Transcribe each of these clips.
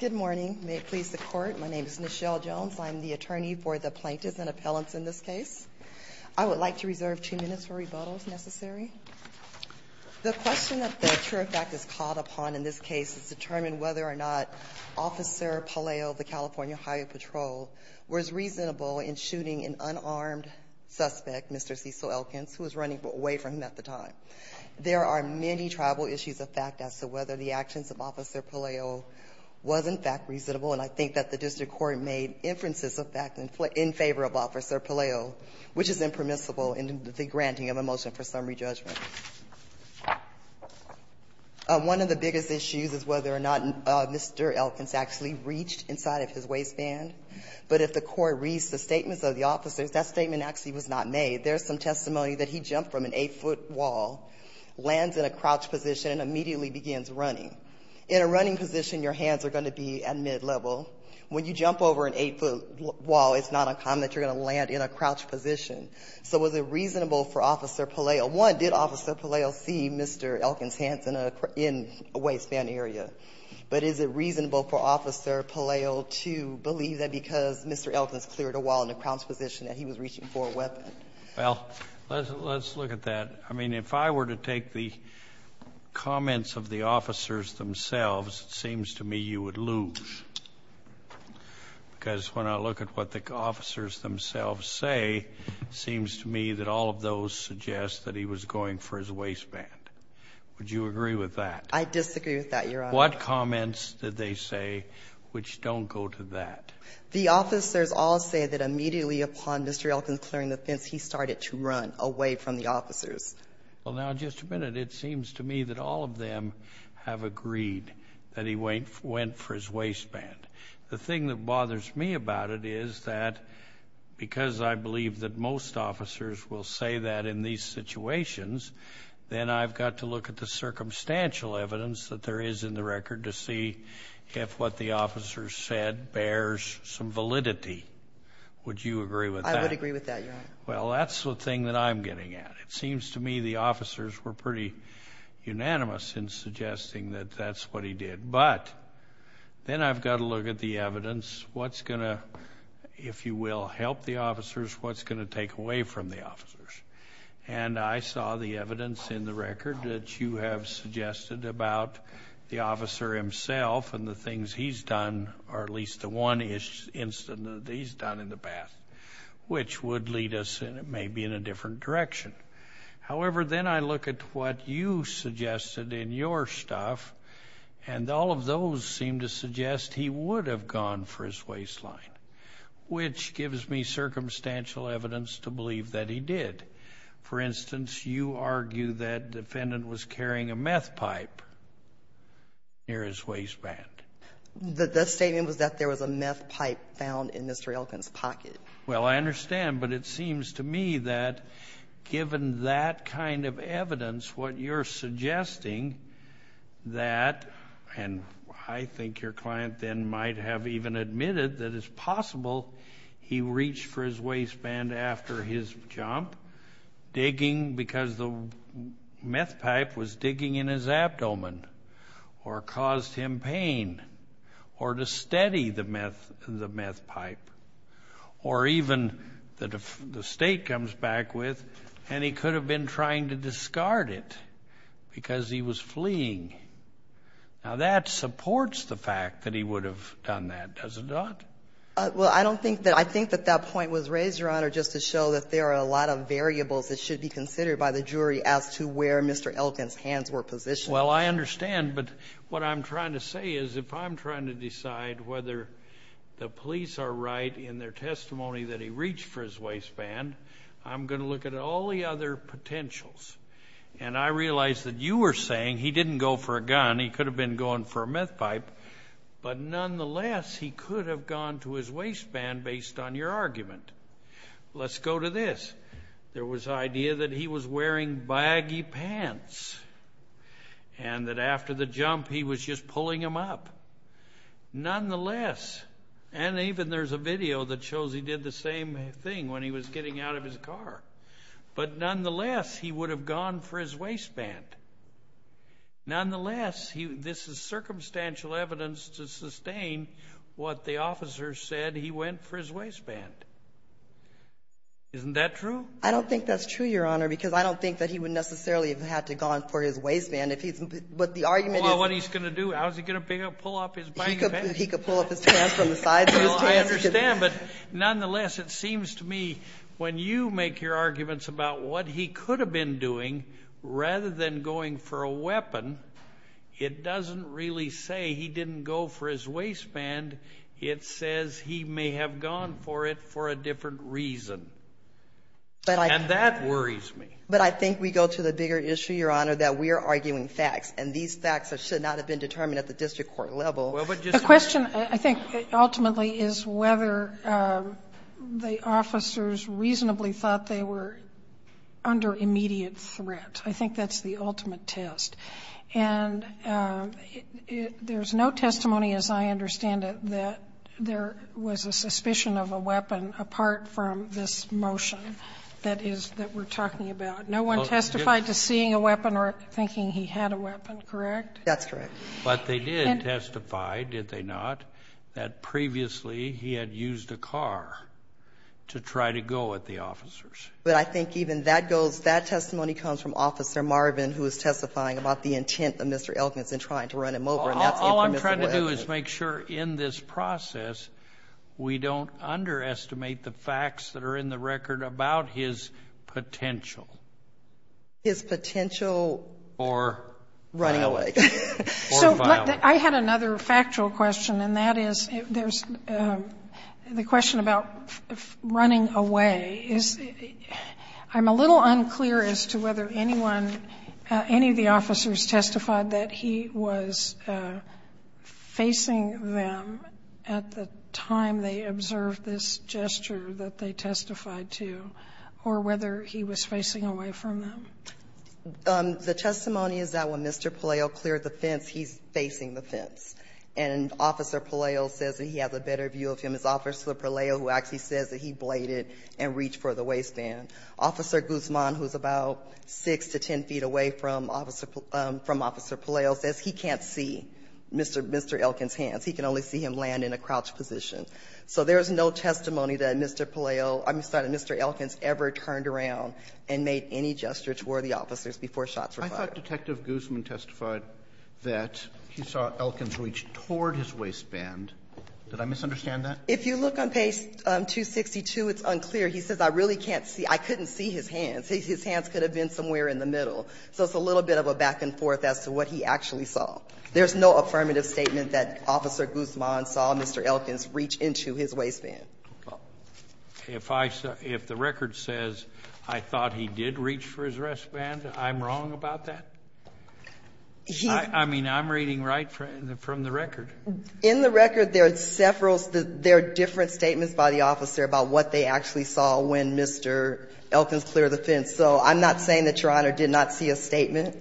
Good morning. May it please the Court, my name is Nichelle Jones. I'm the attorney for the plaintiffs and appellants in this case. I would like to reserve two minutes for rebuttals necessary. The question that the Truer Fact is called upon in this case is to determine whether or not Officer Pelayo of the California Highway Patrol was reasonable in shooting an unarmed suspect, Mr. Cecil Elkins, who was running away from him at the time. There are many tribal issues of fact as to whether the actions of Officer Pelayo was in fact reasonable, and I think that the district court made inferences of fact in favor of Officer Pelayo, which is impermissible in the granting of a motion for summary judgment. One of the biggest issues is whether or not Mr. Elkins actually reached inside of his waistband, but if the court reads the statements of the officers, that statement actually was not made. There's some testimony that he jumped from an 8-foot wall, lands in a crouched position, and immediately begins running. In a running position, your hands are going to be at mid-level. When you jump over an 8-foot wall, it's not uncommon that you're going to land in a crouched position. So was it reasonable for Officer Pelayo? One, did Officer Pelayo see Mr. Elkins' hands in a waistband area? But is it reasonable for Officer Pelayo to believe that because Mr. Elkins cleared a wall in a crouched position that he was reaching for a weapon? Well, let's look at that. I mean, if I were to take the comments of the officers themselves, it seems to me you would lose, because when I look at what the officers themselves say, it seems to me that all of those suggest that he was going for his waistband. Would you agree with that? I disagree with that, Your Honor. What comments did they say which don't go to that? The officers all say that immediately upon Mr. Elkins clearing the fence, he started to run away from the officers. Well, now, just a minute. It seems to me that all of them have agreed that he went for his waistband. The thing that bothers me about it is that because I believe that most officers will say that in these situations, then I've got to look at the circumstantial evidence that there is in the record to see if what the officers said bears some validity. Would you agree with that? I would agree with that, Your Honor. Well, that's the thing that I'm getting at. It seems to me the officers were pretty unanimous in suggesting that that's what he did, but then I've got to look at the evidence. What's going to, if you will, help the officers? What's going to take away from the officers? And I saw the evidence in the record that you have suggested about the officer himself and the things he's done, or at least the one incident that he's done in the past, which would lead us maybe in a different direction. However, then I look at what you suggested in your stuff, and all of those seem to suggest he would have gone for his waistline, which gives me circumstantial evidence to believe that he did. For instance, you argue that the defendant was carrying a meth pipe near his waistband. The statement was that there was a meth pipe found in Mr. Elkin's pocket. Well, I understand, but it seems to me that given that kind of evidence, what you're suggesting that, and I think your client then might have even admitted that it's possible he reached for his waistband after his jump, digging, because the meth pipe was digging in his abdomen, or caused him pain, or to steady the meth pipe, or even the state comes back with, and he could have been trying to discard it because he was fleeing. Now, that supports the fact that he would have done that, does it not? Well, I don't think that, I think that that point was raised, Your Honor, just to show that there are a lot of things to consider by the jury as to where Mr. Elkin's hands were positioned. Well, I understand, but what I'm trying to say is if I'm trying to decide whether the police are right in their testimony that he reached for his waistband, I'm going to look at all the other potentials. And I realize that you were saying he didn't go for a gun, he could have been going for a meth pipe, but nonetheless, he could have gone to his waistband based on your argument. Let's go to this. There was idea that he was wearing baggy pants, and that after the jump he was just pulling him up. Nonetheless, and even there's a video that shows he did the same thing when he was getting out of his car, but nonetheless, he would have gone for his waistband. Nonetheless, this is circumstantial evidence to sustain what the officer said he went for his waistband. Isn't that true? I don't think that's true, Your Honor, because I don't think that he would necessarily have had to gone for his waistband. But the argument is... Well, what he's going to do, how's he going to pull up his baggy pants? He could pull up his pants from the sides of his pants. I understand, but nonetheless, it seems to me when you make your arguments about what he could have been doing rather than going for a weapon, it doesn't really say he didn't go for his waistband. It's just a different reason. And that worries me. But I think we go to the bigger issue, Your Honor, that we are arguing facts, and these facts should not have been determined at the district court level. The question, I think, ultimately is whether the officers reasonably thought they were under immediate threat. I think that's the ultimate test. And there's no testimony, as I understand it, that there was a suspicion of a weapon apart from this motion that we're talking about. No one testified to seeing a weapon or thinking he had a weapon, correct? That's correct. But they did testify, did they not, that previously he had used a car to try to go at the officers. But I think even that goes, that testimony comes from Officer Marvin, who is testifying about the intent of Mr. Elkins in trying to run him over. All I'm trying to do is make sure in this process, we don't underestimate the facts that are in the record about his potential. His potential for running away. So, I had another factual question, and that is, there's, the question about running away is, I'm a little unclear as to whether anyone, any of the officers testified that he was facing them at the time they observed this gesture that they testified to, or whether he was facing away from them. The testimony is that when Mr. Palaio cleared the fence, he's facing the fence. And Officer Palaio says that he has a better view of him. It's Officer Palaio who actually says that he bladed and reached for the waistband. Officer Guzman, who's about 6 to 10 feet away from Officer Palaio, says he can't see Mr. Elkins' hands. He can only see him land in a crouched position. So there's no testimony that Mr. Palaio, I'm sorry, that Mr. Elkins ever turned around and made any gesture toward the officers before shots were fired. Roberts. I thought Detective Guzman testified that he saw Elkins reach toward his waistband. Did I misunderstand that? If you look on page 262, it's unclear. He says, I really can't see. I couldn't see his hands. His hands could have been somewhere in the middle. So it's a little bit of a back and forth as to what he actually saw. There's no affirmative statement that Officer Guzman saw Mr. Elkins reach into his waistband. If the record says I thought he did reach for his waistband, I'm wrong about that? I mean, I'm reading right from the record. In the record, there are different statements by the officer about what they actually saw when Mr. Elkins cleared the fence. So I'm not saying that Your Honor did not see a statement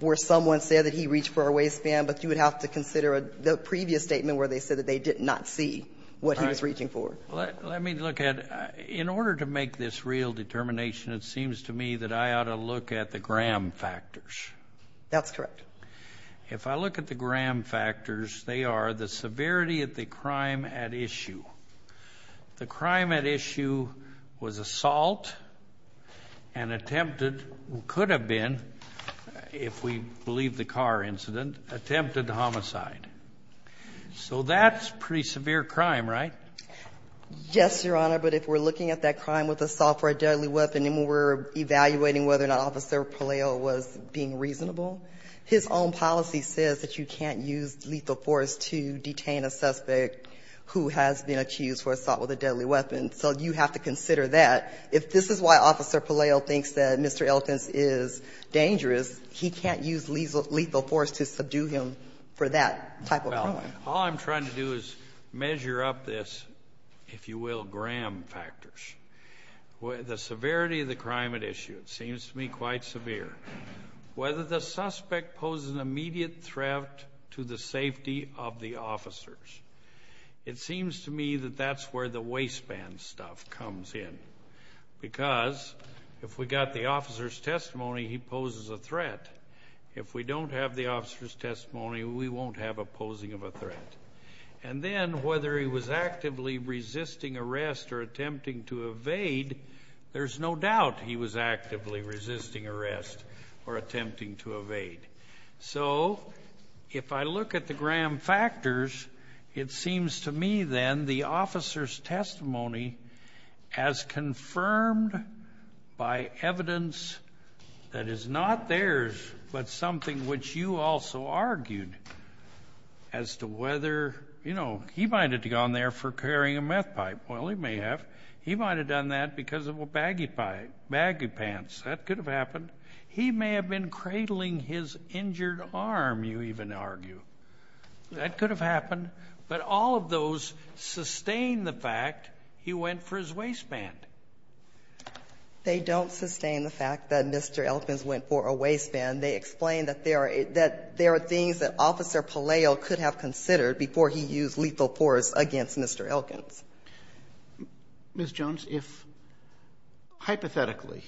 where someone said that he reached for a waistband, but you would have to consider the previous statement where they said that they did not see what he was reaching for. Let me look at it. In order to make this real determination, it seems to me that I ought to look at the gram factors. That's correct. If I look at the gram factors, they are the severity of the crime at issue. The crime at issue was assault and attempted, could have been, if we believe the car incident, attempted homicide. So that's pretty severe crime, right? Yes, Your Honor, but if we're looking at that crime with assault for a deadly weapon and we're evaluating whether or not Officer Palaio was being reasonable, his own policy says that you can't use lethal force to detain a suspect who has been accused for assault with a deadly weapon, so you have to consider that. If this is why Officer Palaio thinks that Mr. Elkins is dangerous, he can't use lethal force to subdue him for that type of crime. All I'm trying to do is measure up this, if you will, gram factors. The severity of the crime at issue, it seems to me quite severe. Whether the suspect poses an immediate threat to the safety of the officers. It seems to me that that's where the waistband stuff comes in, because if we got the officer's testimony, he poses a threat. If we don't have the officer's testimony, we won't have a posing of a threat. And then whether he was actively resisting arrest or attempting to evade, there's no doubt he was actively resisting arrest or attempting to evade. So, if I look at the gram factors, it seems to me then the officer's testimony as confirmed by evidence that is not theirs, but something which you also argued as to whether, you know, he might have gone there for carrying a meth pipe. Well, he may have. He might have done that because of a baggy pants. That could have happened. He may have been cradling his injured arm, you even argue. That could have happened. But all of those sustain the fact he went for his waistband. They don't sustain the fact that Mr. Elkins went for a waistband. They explain that there are things that Officer Palaio could have considered before he used lethal force against Mr. Elkins. Ms. Jones, if hypothetically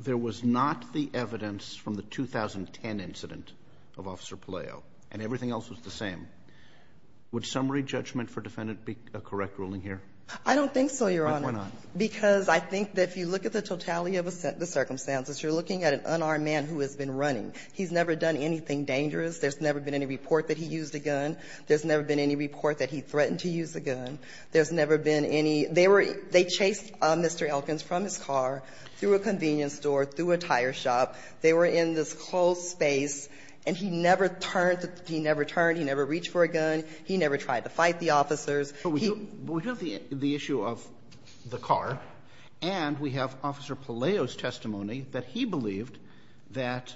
there was not the evidence from the 2010 incident of Officer Palaio and everything else was the same, would summary judgment for defendant be a correct ruling here? I don't think so, Your Honor. Why not? Because I think that if you look at the totality of the circumstances, you're looking at an unarmed man who has been running. He's never done anything dangerous. There's never been any report that he used a gun. There's never been any report that he threatened to use a gun. There's never been any – they were – they chased Mr. Elkins from his car, through a convenience store, through a tire shop. They were in this closed space, and he never turned. He never turned. He never reached for a gun. He never tried to fight the officers. He – But we do have the issue of the car, and we have Officer Palaio's testimony that he believed that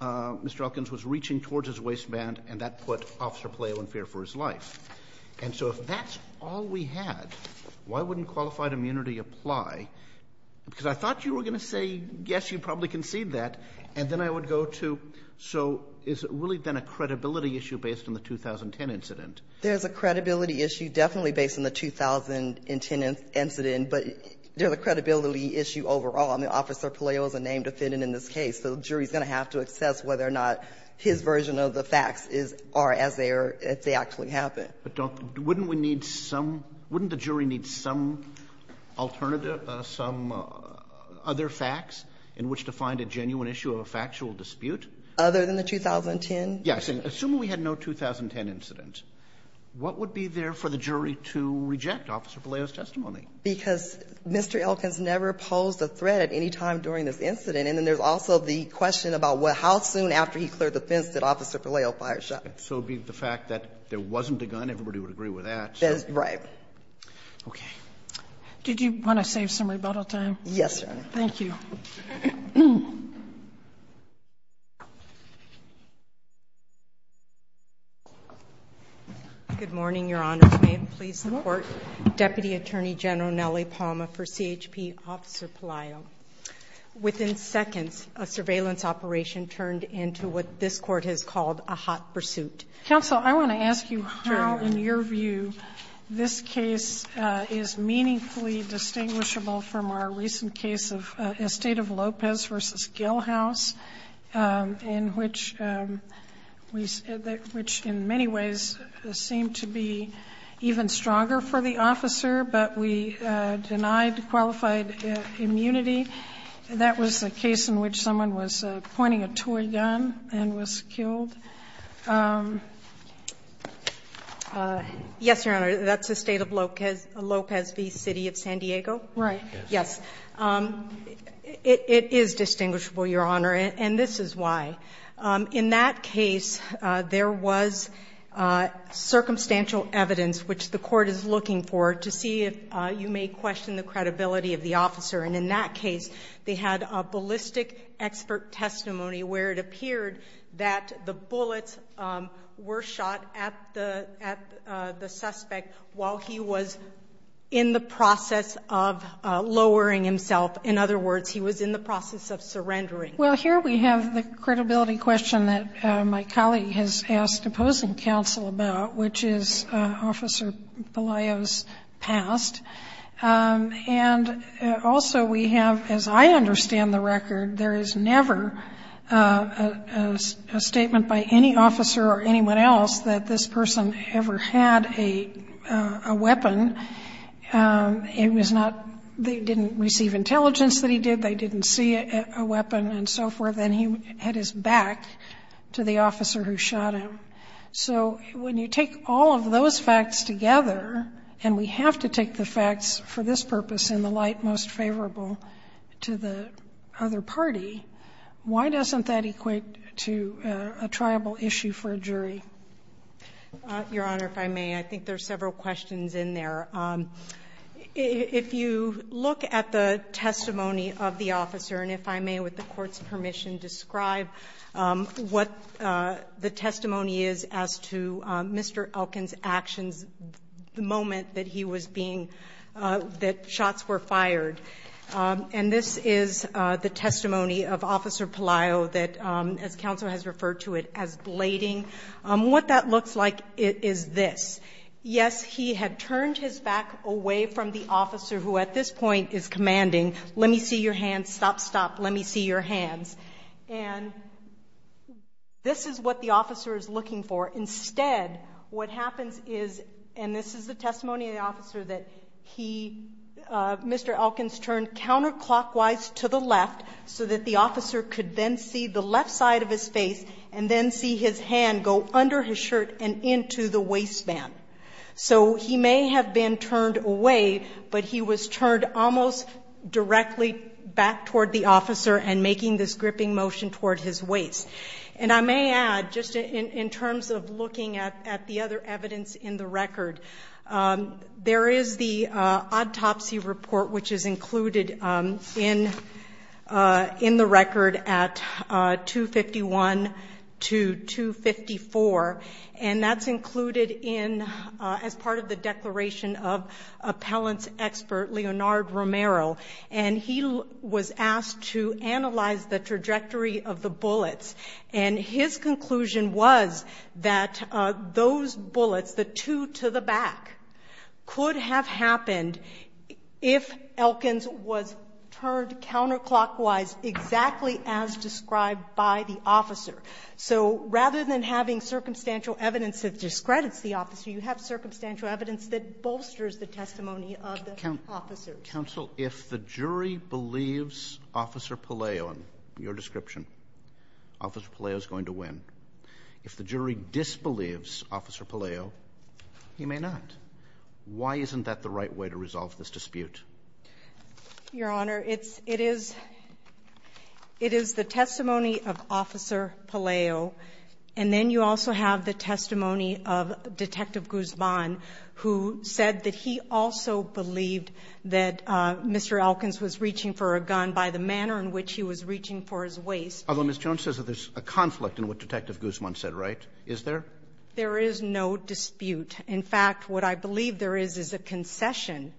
Mr. Elkins was reaching towards his waistband, and that put Officer Palaio in fear for his life. And so if that's all we had, why wouldn't qualified immunity apply? Because I thought you were going to say, yes, you probably concede that, and then I would go to, so is it really then a credibility issue based on the 2010 incident? There's a credibility issue definitely based on the 2010 incident, but there's a credibility issue overall. I mean, Officer Palaio is a named defendant in this case, so the jury's going to have to assess whether or not his version of the facts is – are as they are – if they actually happened. But don't – wouldn't we need some – wouldn't the jury need some alternative, some other facts in which to find a genuine issue of a factual dispute? Other than the 2010? Yes. Assuming we had no 2010 incident, what would be there for the jury to reject Officer Palaio's testimony? Because Mr. Elkins never posed a threat at any time during this incident. And then there's also the question about what – how soon after he cleared the fence did Officer Palaio fire a shot? So it would be the fact that there wasn't a gun. Everybody would agree with that. Right. Okay. Did you want to save some rebuttal time? Yes, Your Honor. Thank you. Good morning, Your Honors. May it please the Court. Deputy Attorney General Nellie Palmer for CHP, Officer Palaio. Within seconds, a surveillance operation turned into what this Court has called a hot pursuit. Counsel, I want to ask you how, in your view, this case is meaningfully distinguishable from our recent case of Estate of Lopez v. Gilhouse, in which we – which in many ways seemed to be even stronger for the officer, but we denied qualified immunity. That was a case in which someone was pointing a toy gun and was killed. Yes, Your Honor. That's the State of Lopez v. City of San Diego? Right. Yes. It is distinguishable, Your Honor, and this is why. In that case, there was circumstantial evidence, which the Court is looking for, to see if you may question the credibility of the officer. And in that case, they had a ballistic expert testimony where it appeared that the bullets were shot at the suspect while he was in the process of lowering himself. In other words, he was in the process of surrendering. Well, here we have the credibility question that my colleague has asked opposing counsel about, which is Officer Palaio's past. And also we have, as I understand the record, there is never a statement by any officer or anyone else that this person ever had a weapon. It was not – they didn't receive intelligence that he did. They didn't see a weapon and so forth. Then he had his back to the officer who shot him. So when you take all of those facts together, and we have to take the facts for this purpose in the light most favorable to the other party, why doesn't that equate to a triable issue for a jury? Your Honor, if I may, I think there are several questions in there. If you look at the testimony of the officer, and if I may, with the Court's permission, describe what the testimony is as to Mr. Elkin's actions the moment that he was being – that shots were fired. And this is the testimony of Officer Palaio that, as counsel has referred to it, as blading. What that looks like is this. Yes, he had turned his back away from the officer who at this point is commanding, let me see your hands, stop, stop, let me see your hands. And this is what the officer is looking for. Instead, what happens is – and this is the testimony of the officer that he – Mr. Elkins turned counterclockwise to the left so that the officer could then see the left side of his face and then see his hand go under his shirt and into the waistband. So he may have been turned away, but he was turned almost directly back toward the officer and making this gripping motion toward his waist. And I may add, just in terms of looking at the other evidence in the record, there is the autopsy report, which is included in the record at 251 to 254. And that's included in – as part of the declaration of appellant's expert, Leonardo Romero. And he was asked to analyze the trajectory of the bullets. And his conclusion was that those bullets, the two to the back, could have happened if Elkins was turned counterclockwise exactly as described by the officer. So rather than having circumstantial evidence that discredits the officer, you have circumstantial evidence that bolsters the testimony of the officer. Counsel, if the jury believes Officer Palaio in your description, Officer Palaio is going to win. If the jury disbelieves Officer Palaio, he may not. Why isn't that the right way to resolve this dispute? Your Honor, it is the testimony of Officer Palaio. And then you also have the testimony of Detective Guzman, who said that he also believed that Mr. Elkins was reaching for a gun by the manner in which he was reaching for his waist. Although Ms. Jones says that there's a conflict in what Detective Guzman said, right? Is there? There is no dispute. In fact, what I believe there is is a concession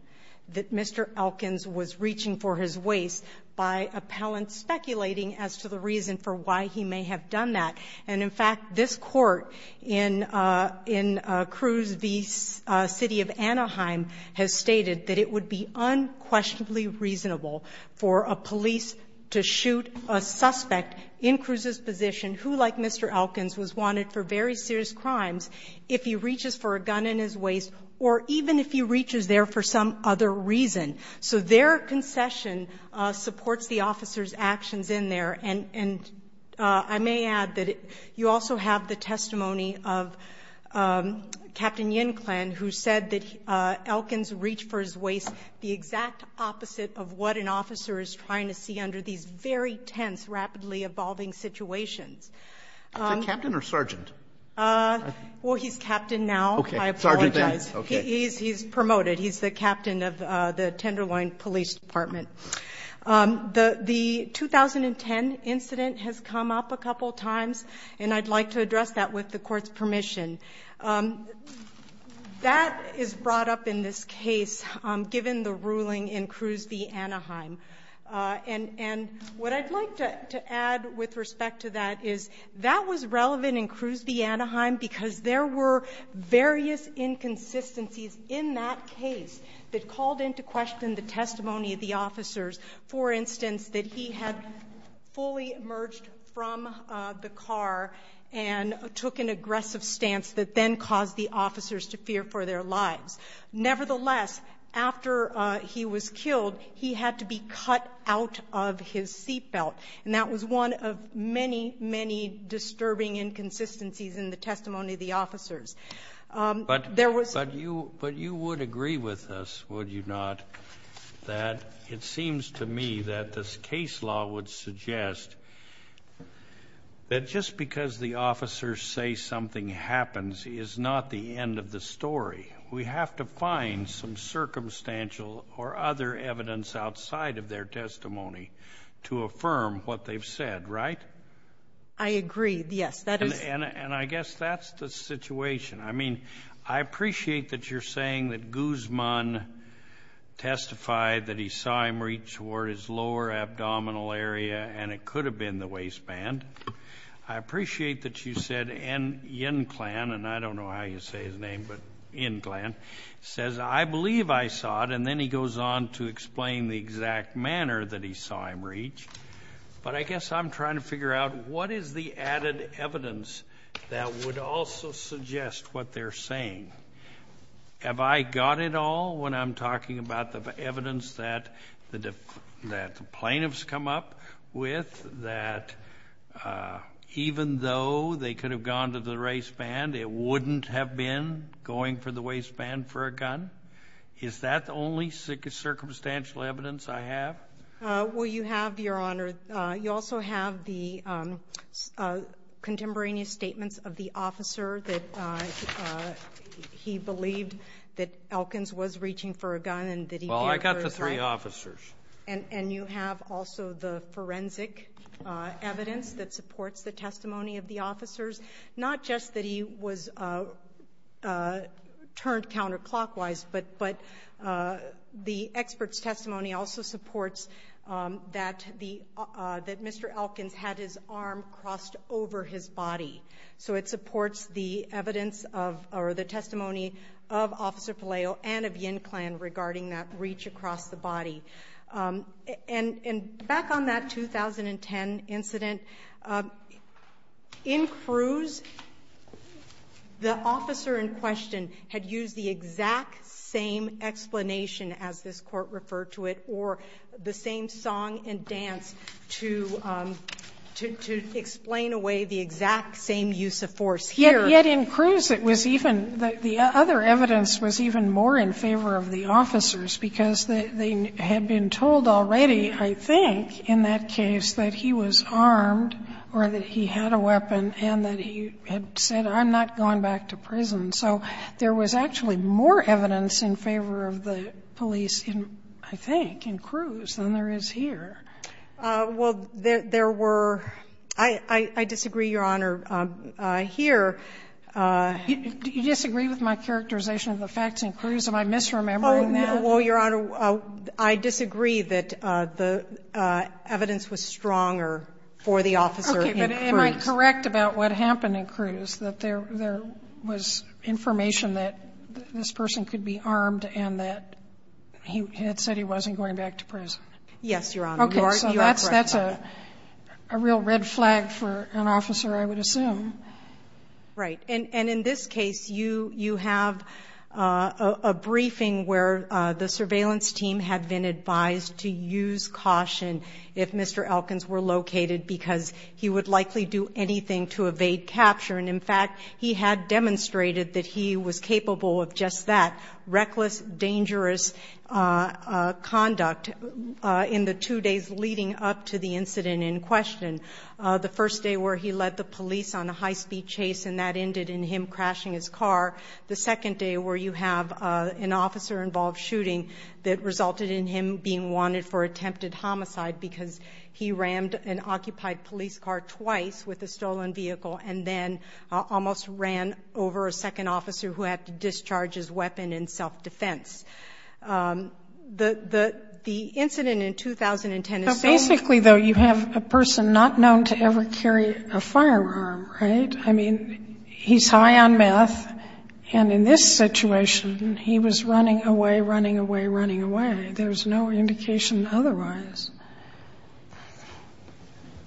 that Mr. Elkins was reaching for his waist by appellant speculating as to the reason for why he may have done that. And, in fact, this Court in Cruz v. City of Anaheim has stated that it would be unquestionably reasonable for a police to shoot a suspect in Cruz's position who, like Mr. Elkins, was wanted for very serious crimes if he reaches for a gun in his waist, or even if he reaches there for some other reason. So their concession supports the officer's actions in there. And I may add that you also have the testimony of Captain Yen Klen, who said that Elkins reached for his waist the exact opposite of what an officer is trying to see under these very tense, rapidly evolving situations. Is he captain or sergeant? Well, he's captain now. I apologize. He's promoted. He's the captain of the Tenderloin Police Department. The 2010 incident has come up a couple of times, and I'd like to address that with the Court's permission. That is brought up in this case given the ruling in Cruz v. Anaheim. And what I'd like to add with respect to that is that was relevant in Cruz v. Anaheim because there were various inconsistencies in that case that called into question the testimony of the officers. For instance, that he had fully emerged from the car and took an aggressive stance that then caused the officers to fear for their lives. Nevertheless, after he was killed, he had to be cut out of his seat belt, and that was one of many, many disturbing inconsistencies in the testimony of the officers. But you would agree with us, would you not, that it seems to me that this case law would suggest that just because the officers say something happens is not the end of the story. We have to find some circumstantial or other evidence outside of their testimony to affirm what they've said, right? I agree, yes. And I guess that's the situation. I mean, I appreciate that you're saying that Guzman testified that he saw him reach toward his lower abdominal area and it could have been the waistband. I appreciate that you said Yen Klan, and I don't know how you say his name, but Yen Klan, says, I believe I saw it, and then he goes on to explain the exact manner that he saw him reach. But I guess I'm trying to figure out what is the added evidence that would also suggest what they're saying. Have I got it all when I'm talking about the evidence that the plaintiffs come up with that even though they could have gone to the waistband, it wouldn't have been going for the waistband for a gun? Is that the only circumstantial evidence I have? Well, you have, Your Honor. You also have the contemporaneous statements of the officer that he believed that Elkins was reaching for a gun. Well, I got the three officers. And you have also the forensic evidence that supports the testimony of the officers, not just that he was turned counterclockwise, but the expert's testimony also supports that Mr. Elkins had his arm crossed over his body. So it supports the evidence or the testimony of Officer Palaio and of Yen Klan regarding that reach across the body. And back on that 2010 incident, in Cruz, the officer in question had used the exact same explanation, as this Court referred to it, or the same song and dance to explain away the exact same use of force here. Yet in Cruz, it was even the other evidence was even more in favor of the officers because they had been told already, I think, in that case that he was armed or that he had a weapon and that he had said, I'm not going back to prison. So there was actually more evidence in favor of the police in, I think, in Cruz than there is here. Well, there were – I disagree, Your Honor, here. Do you disagree with my characterization of the facts in Cruz? Am I misremembering that? Oh, no. Well, Your Honor, I disagree that the evidence was stronger for the officer in Cruz. Am I correct about what happened in Cruz, that there was information that this person could be armed and that he had said he wasn't going back to prison? Yes, Your Honor. Okay, so that's a real red flag for an officer, I would assume. Right. And in this case, you have a briefing where the surveillance team had been advised to use caution if Mr. Elkins were located because he would likely do anything to evade capture. And, in fact, he had demonstrated that he was capable of just that, reckless, dangerous conduct, in the two days leading up to the incident in question, the first day where he led the police on a high-speed chase and that ended in him crashing his car, the second day where you have an officer-involved shooting that resulted in him being wanted for attempted homicide because he rammed an occupied police car twice with a stolen vehicle and then almost ran over a second officer who had to discharge his weapon in self-defense. The incident in 2010 is so- But basically, though, you have a person not known to ever carry a firearm, right? I mean, he's high on meth, and in this situation, he was running away, running away, running away. There's no indication otherwise.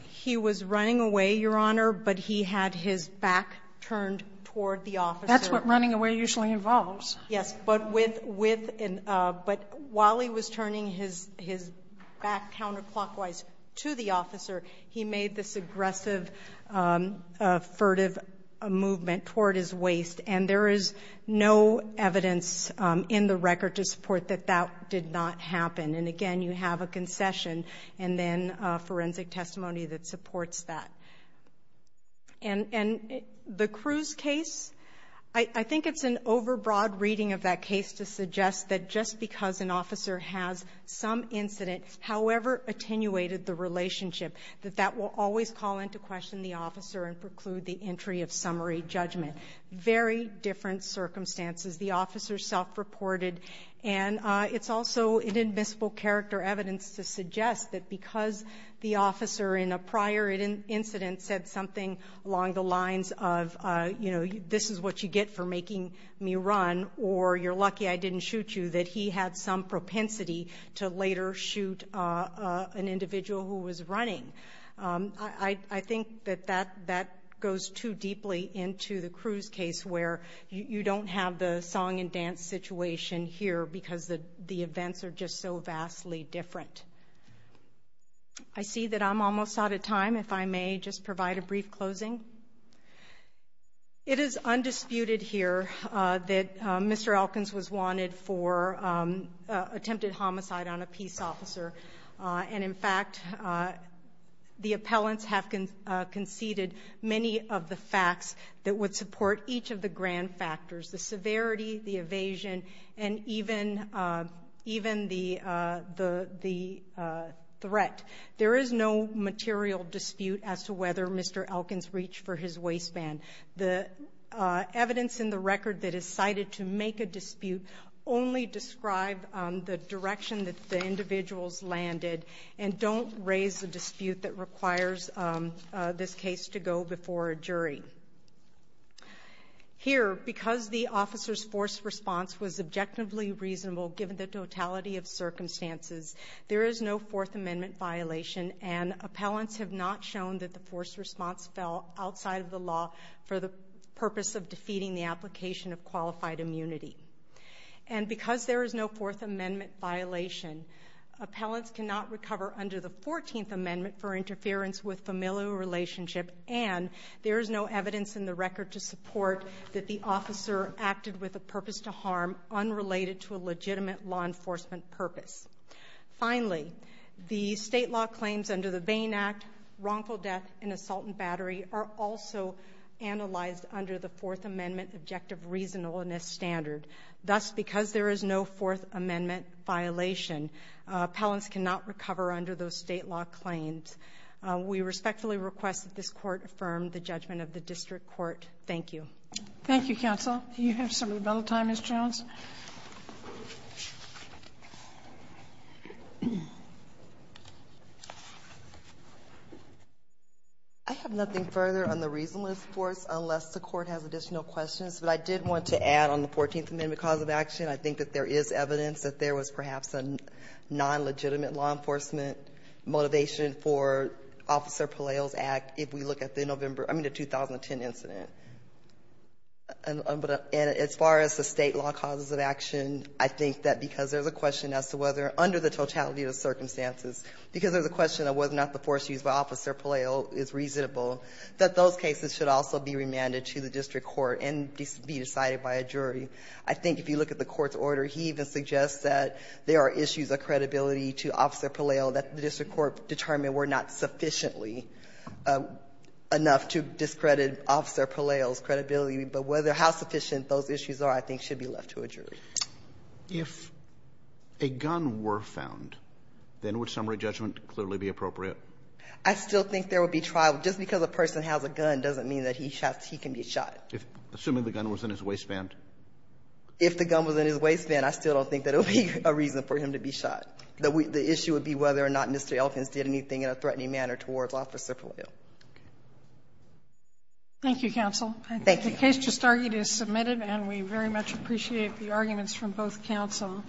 He was running away, Your Honor, but he had his back turned toward the officer. That's what running away usually involves. Yes, but while he was turning his back counterclockwise to the officer, he made this aggressive, furtive movement toward his waist, and there is no evidence in the record to support that that did not happen. And again, you have a concession and then forensic testimony that supports that. And the Cruz case, I think it's an overbroad reading of that case to suggest that just because an officer has some incident, however attenuated the relationship, that that will always call into question the officer and preclude the entry of summary judgment. Very different circumstances. The officer self-reported, and it's also an admissible character evidence to suggest that because the officer in a prior incident said something along the lines of, you know, that he had some propensity to later shoot an individual who was running. I think that that goes too deeply into the Cruz case where you don't have the song and dance situation here because the events are just so vastly different. I see that I'm almost out of time. If I may just provide a brief closing. It is undisputed here that Mr. Elkins was wanted for attempted homicide on a peace officer. And, in fact, the appellants have conceded many of the facts that would support each of the grand factors, the severity, the evasion, and even the threat. There is no material dispute as to whether Mr. Elkins reached for his waistband. The evidence in the record that is cited to make a dispute only described the direction that the individuals landed and don't raise a dispute that requires this case to go before a jury. Here, because the officer's forced response was objectively reasonable given the totality of circumstances, there is no Fourth Amendment violation, and appellants have not shown that the forced response fell outside of the law for the purpose of defeating the application of qualified immunity. And because there is no Fourth Amendment violation, appellants cannot recover under the Fourteenth Amendment for interference with familial relationship, and there is no evidence in the record to support that the officer acted with a purpose to harm unrelated to a legitimate law enforcement purpose. Finally, the state law claims under the Bain Act, wrongful death, and assault and battery are also analyzed under the Fourth Amendment objective reasonableness standard. Thus, because there is no Fourth Amendment violation, appellants cannot recover under those state law claims. We respectfully request that this Court affirm the judgment of the District Court. Thank you. Thank you, Counsel. You have some rebuttal time, Ms. Jones. I have nothing further on the reasonableness for us unless the Court has additional questions, but I did want to add on the Fourteenth Amendment cause of action. I think that there is evidence that there was perhaps a non-legitimate law enforcement motivation for Officer Palaio's act if we look at the November, I mean the 2010 incident. And as far as the state law causes of action, I think that because there is a question as to whether under the totality of the circumstances, because there is a question of whether or not the force used by Officer Palaio is reasonable, that those cases should also be remanded to the District Court and be decided by a jury. I think if you look at the Court's order, he even suggests that there are issues of credibility to Officer Palaio that the District Court determined were not sufficiently enough to discredit Officer Palaio's credibility. But how sufficient those issues are, I think, should be left to a jury. If a gun were found, then would summary judgment clearly be appropriate? I still think there would be trial. Just because a person has a gun doesn't mean that he can be shot. Assuming the gun was in his waistband? If the gun was in his waistband, I still don't think that it would be a reason for him to be shot. The issue would be whether or not Mr. Elkins did anything in a threatening manner towards Officer Palaio. Thank you, Counsel. Thank you. The case just argued is submitted, and we very much appreciate the arguments from both counsel.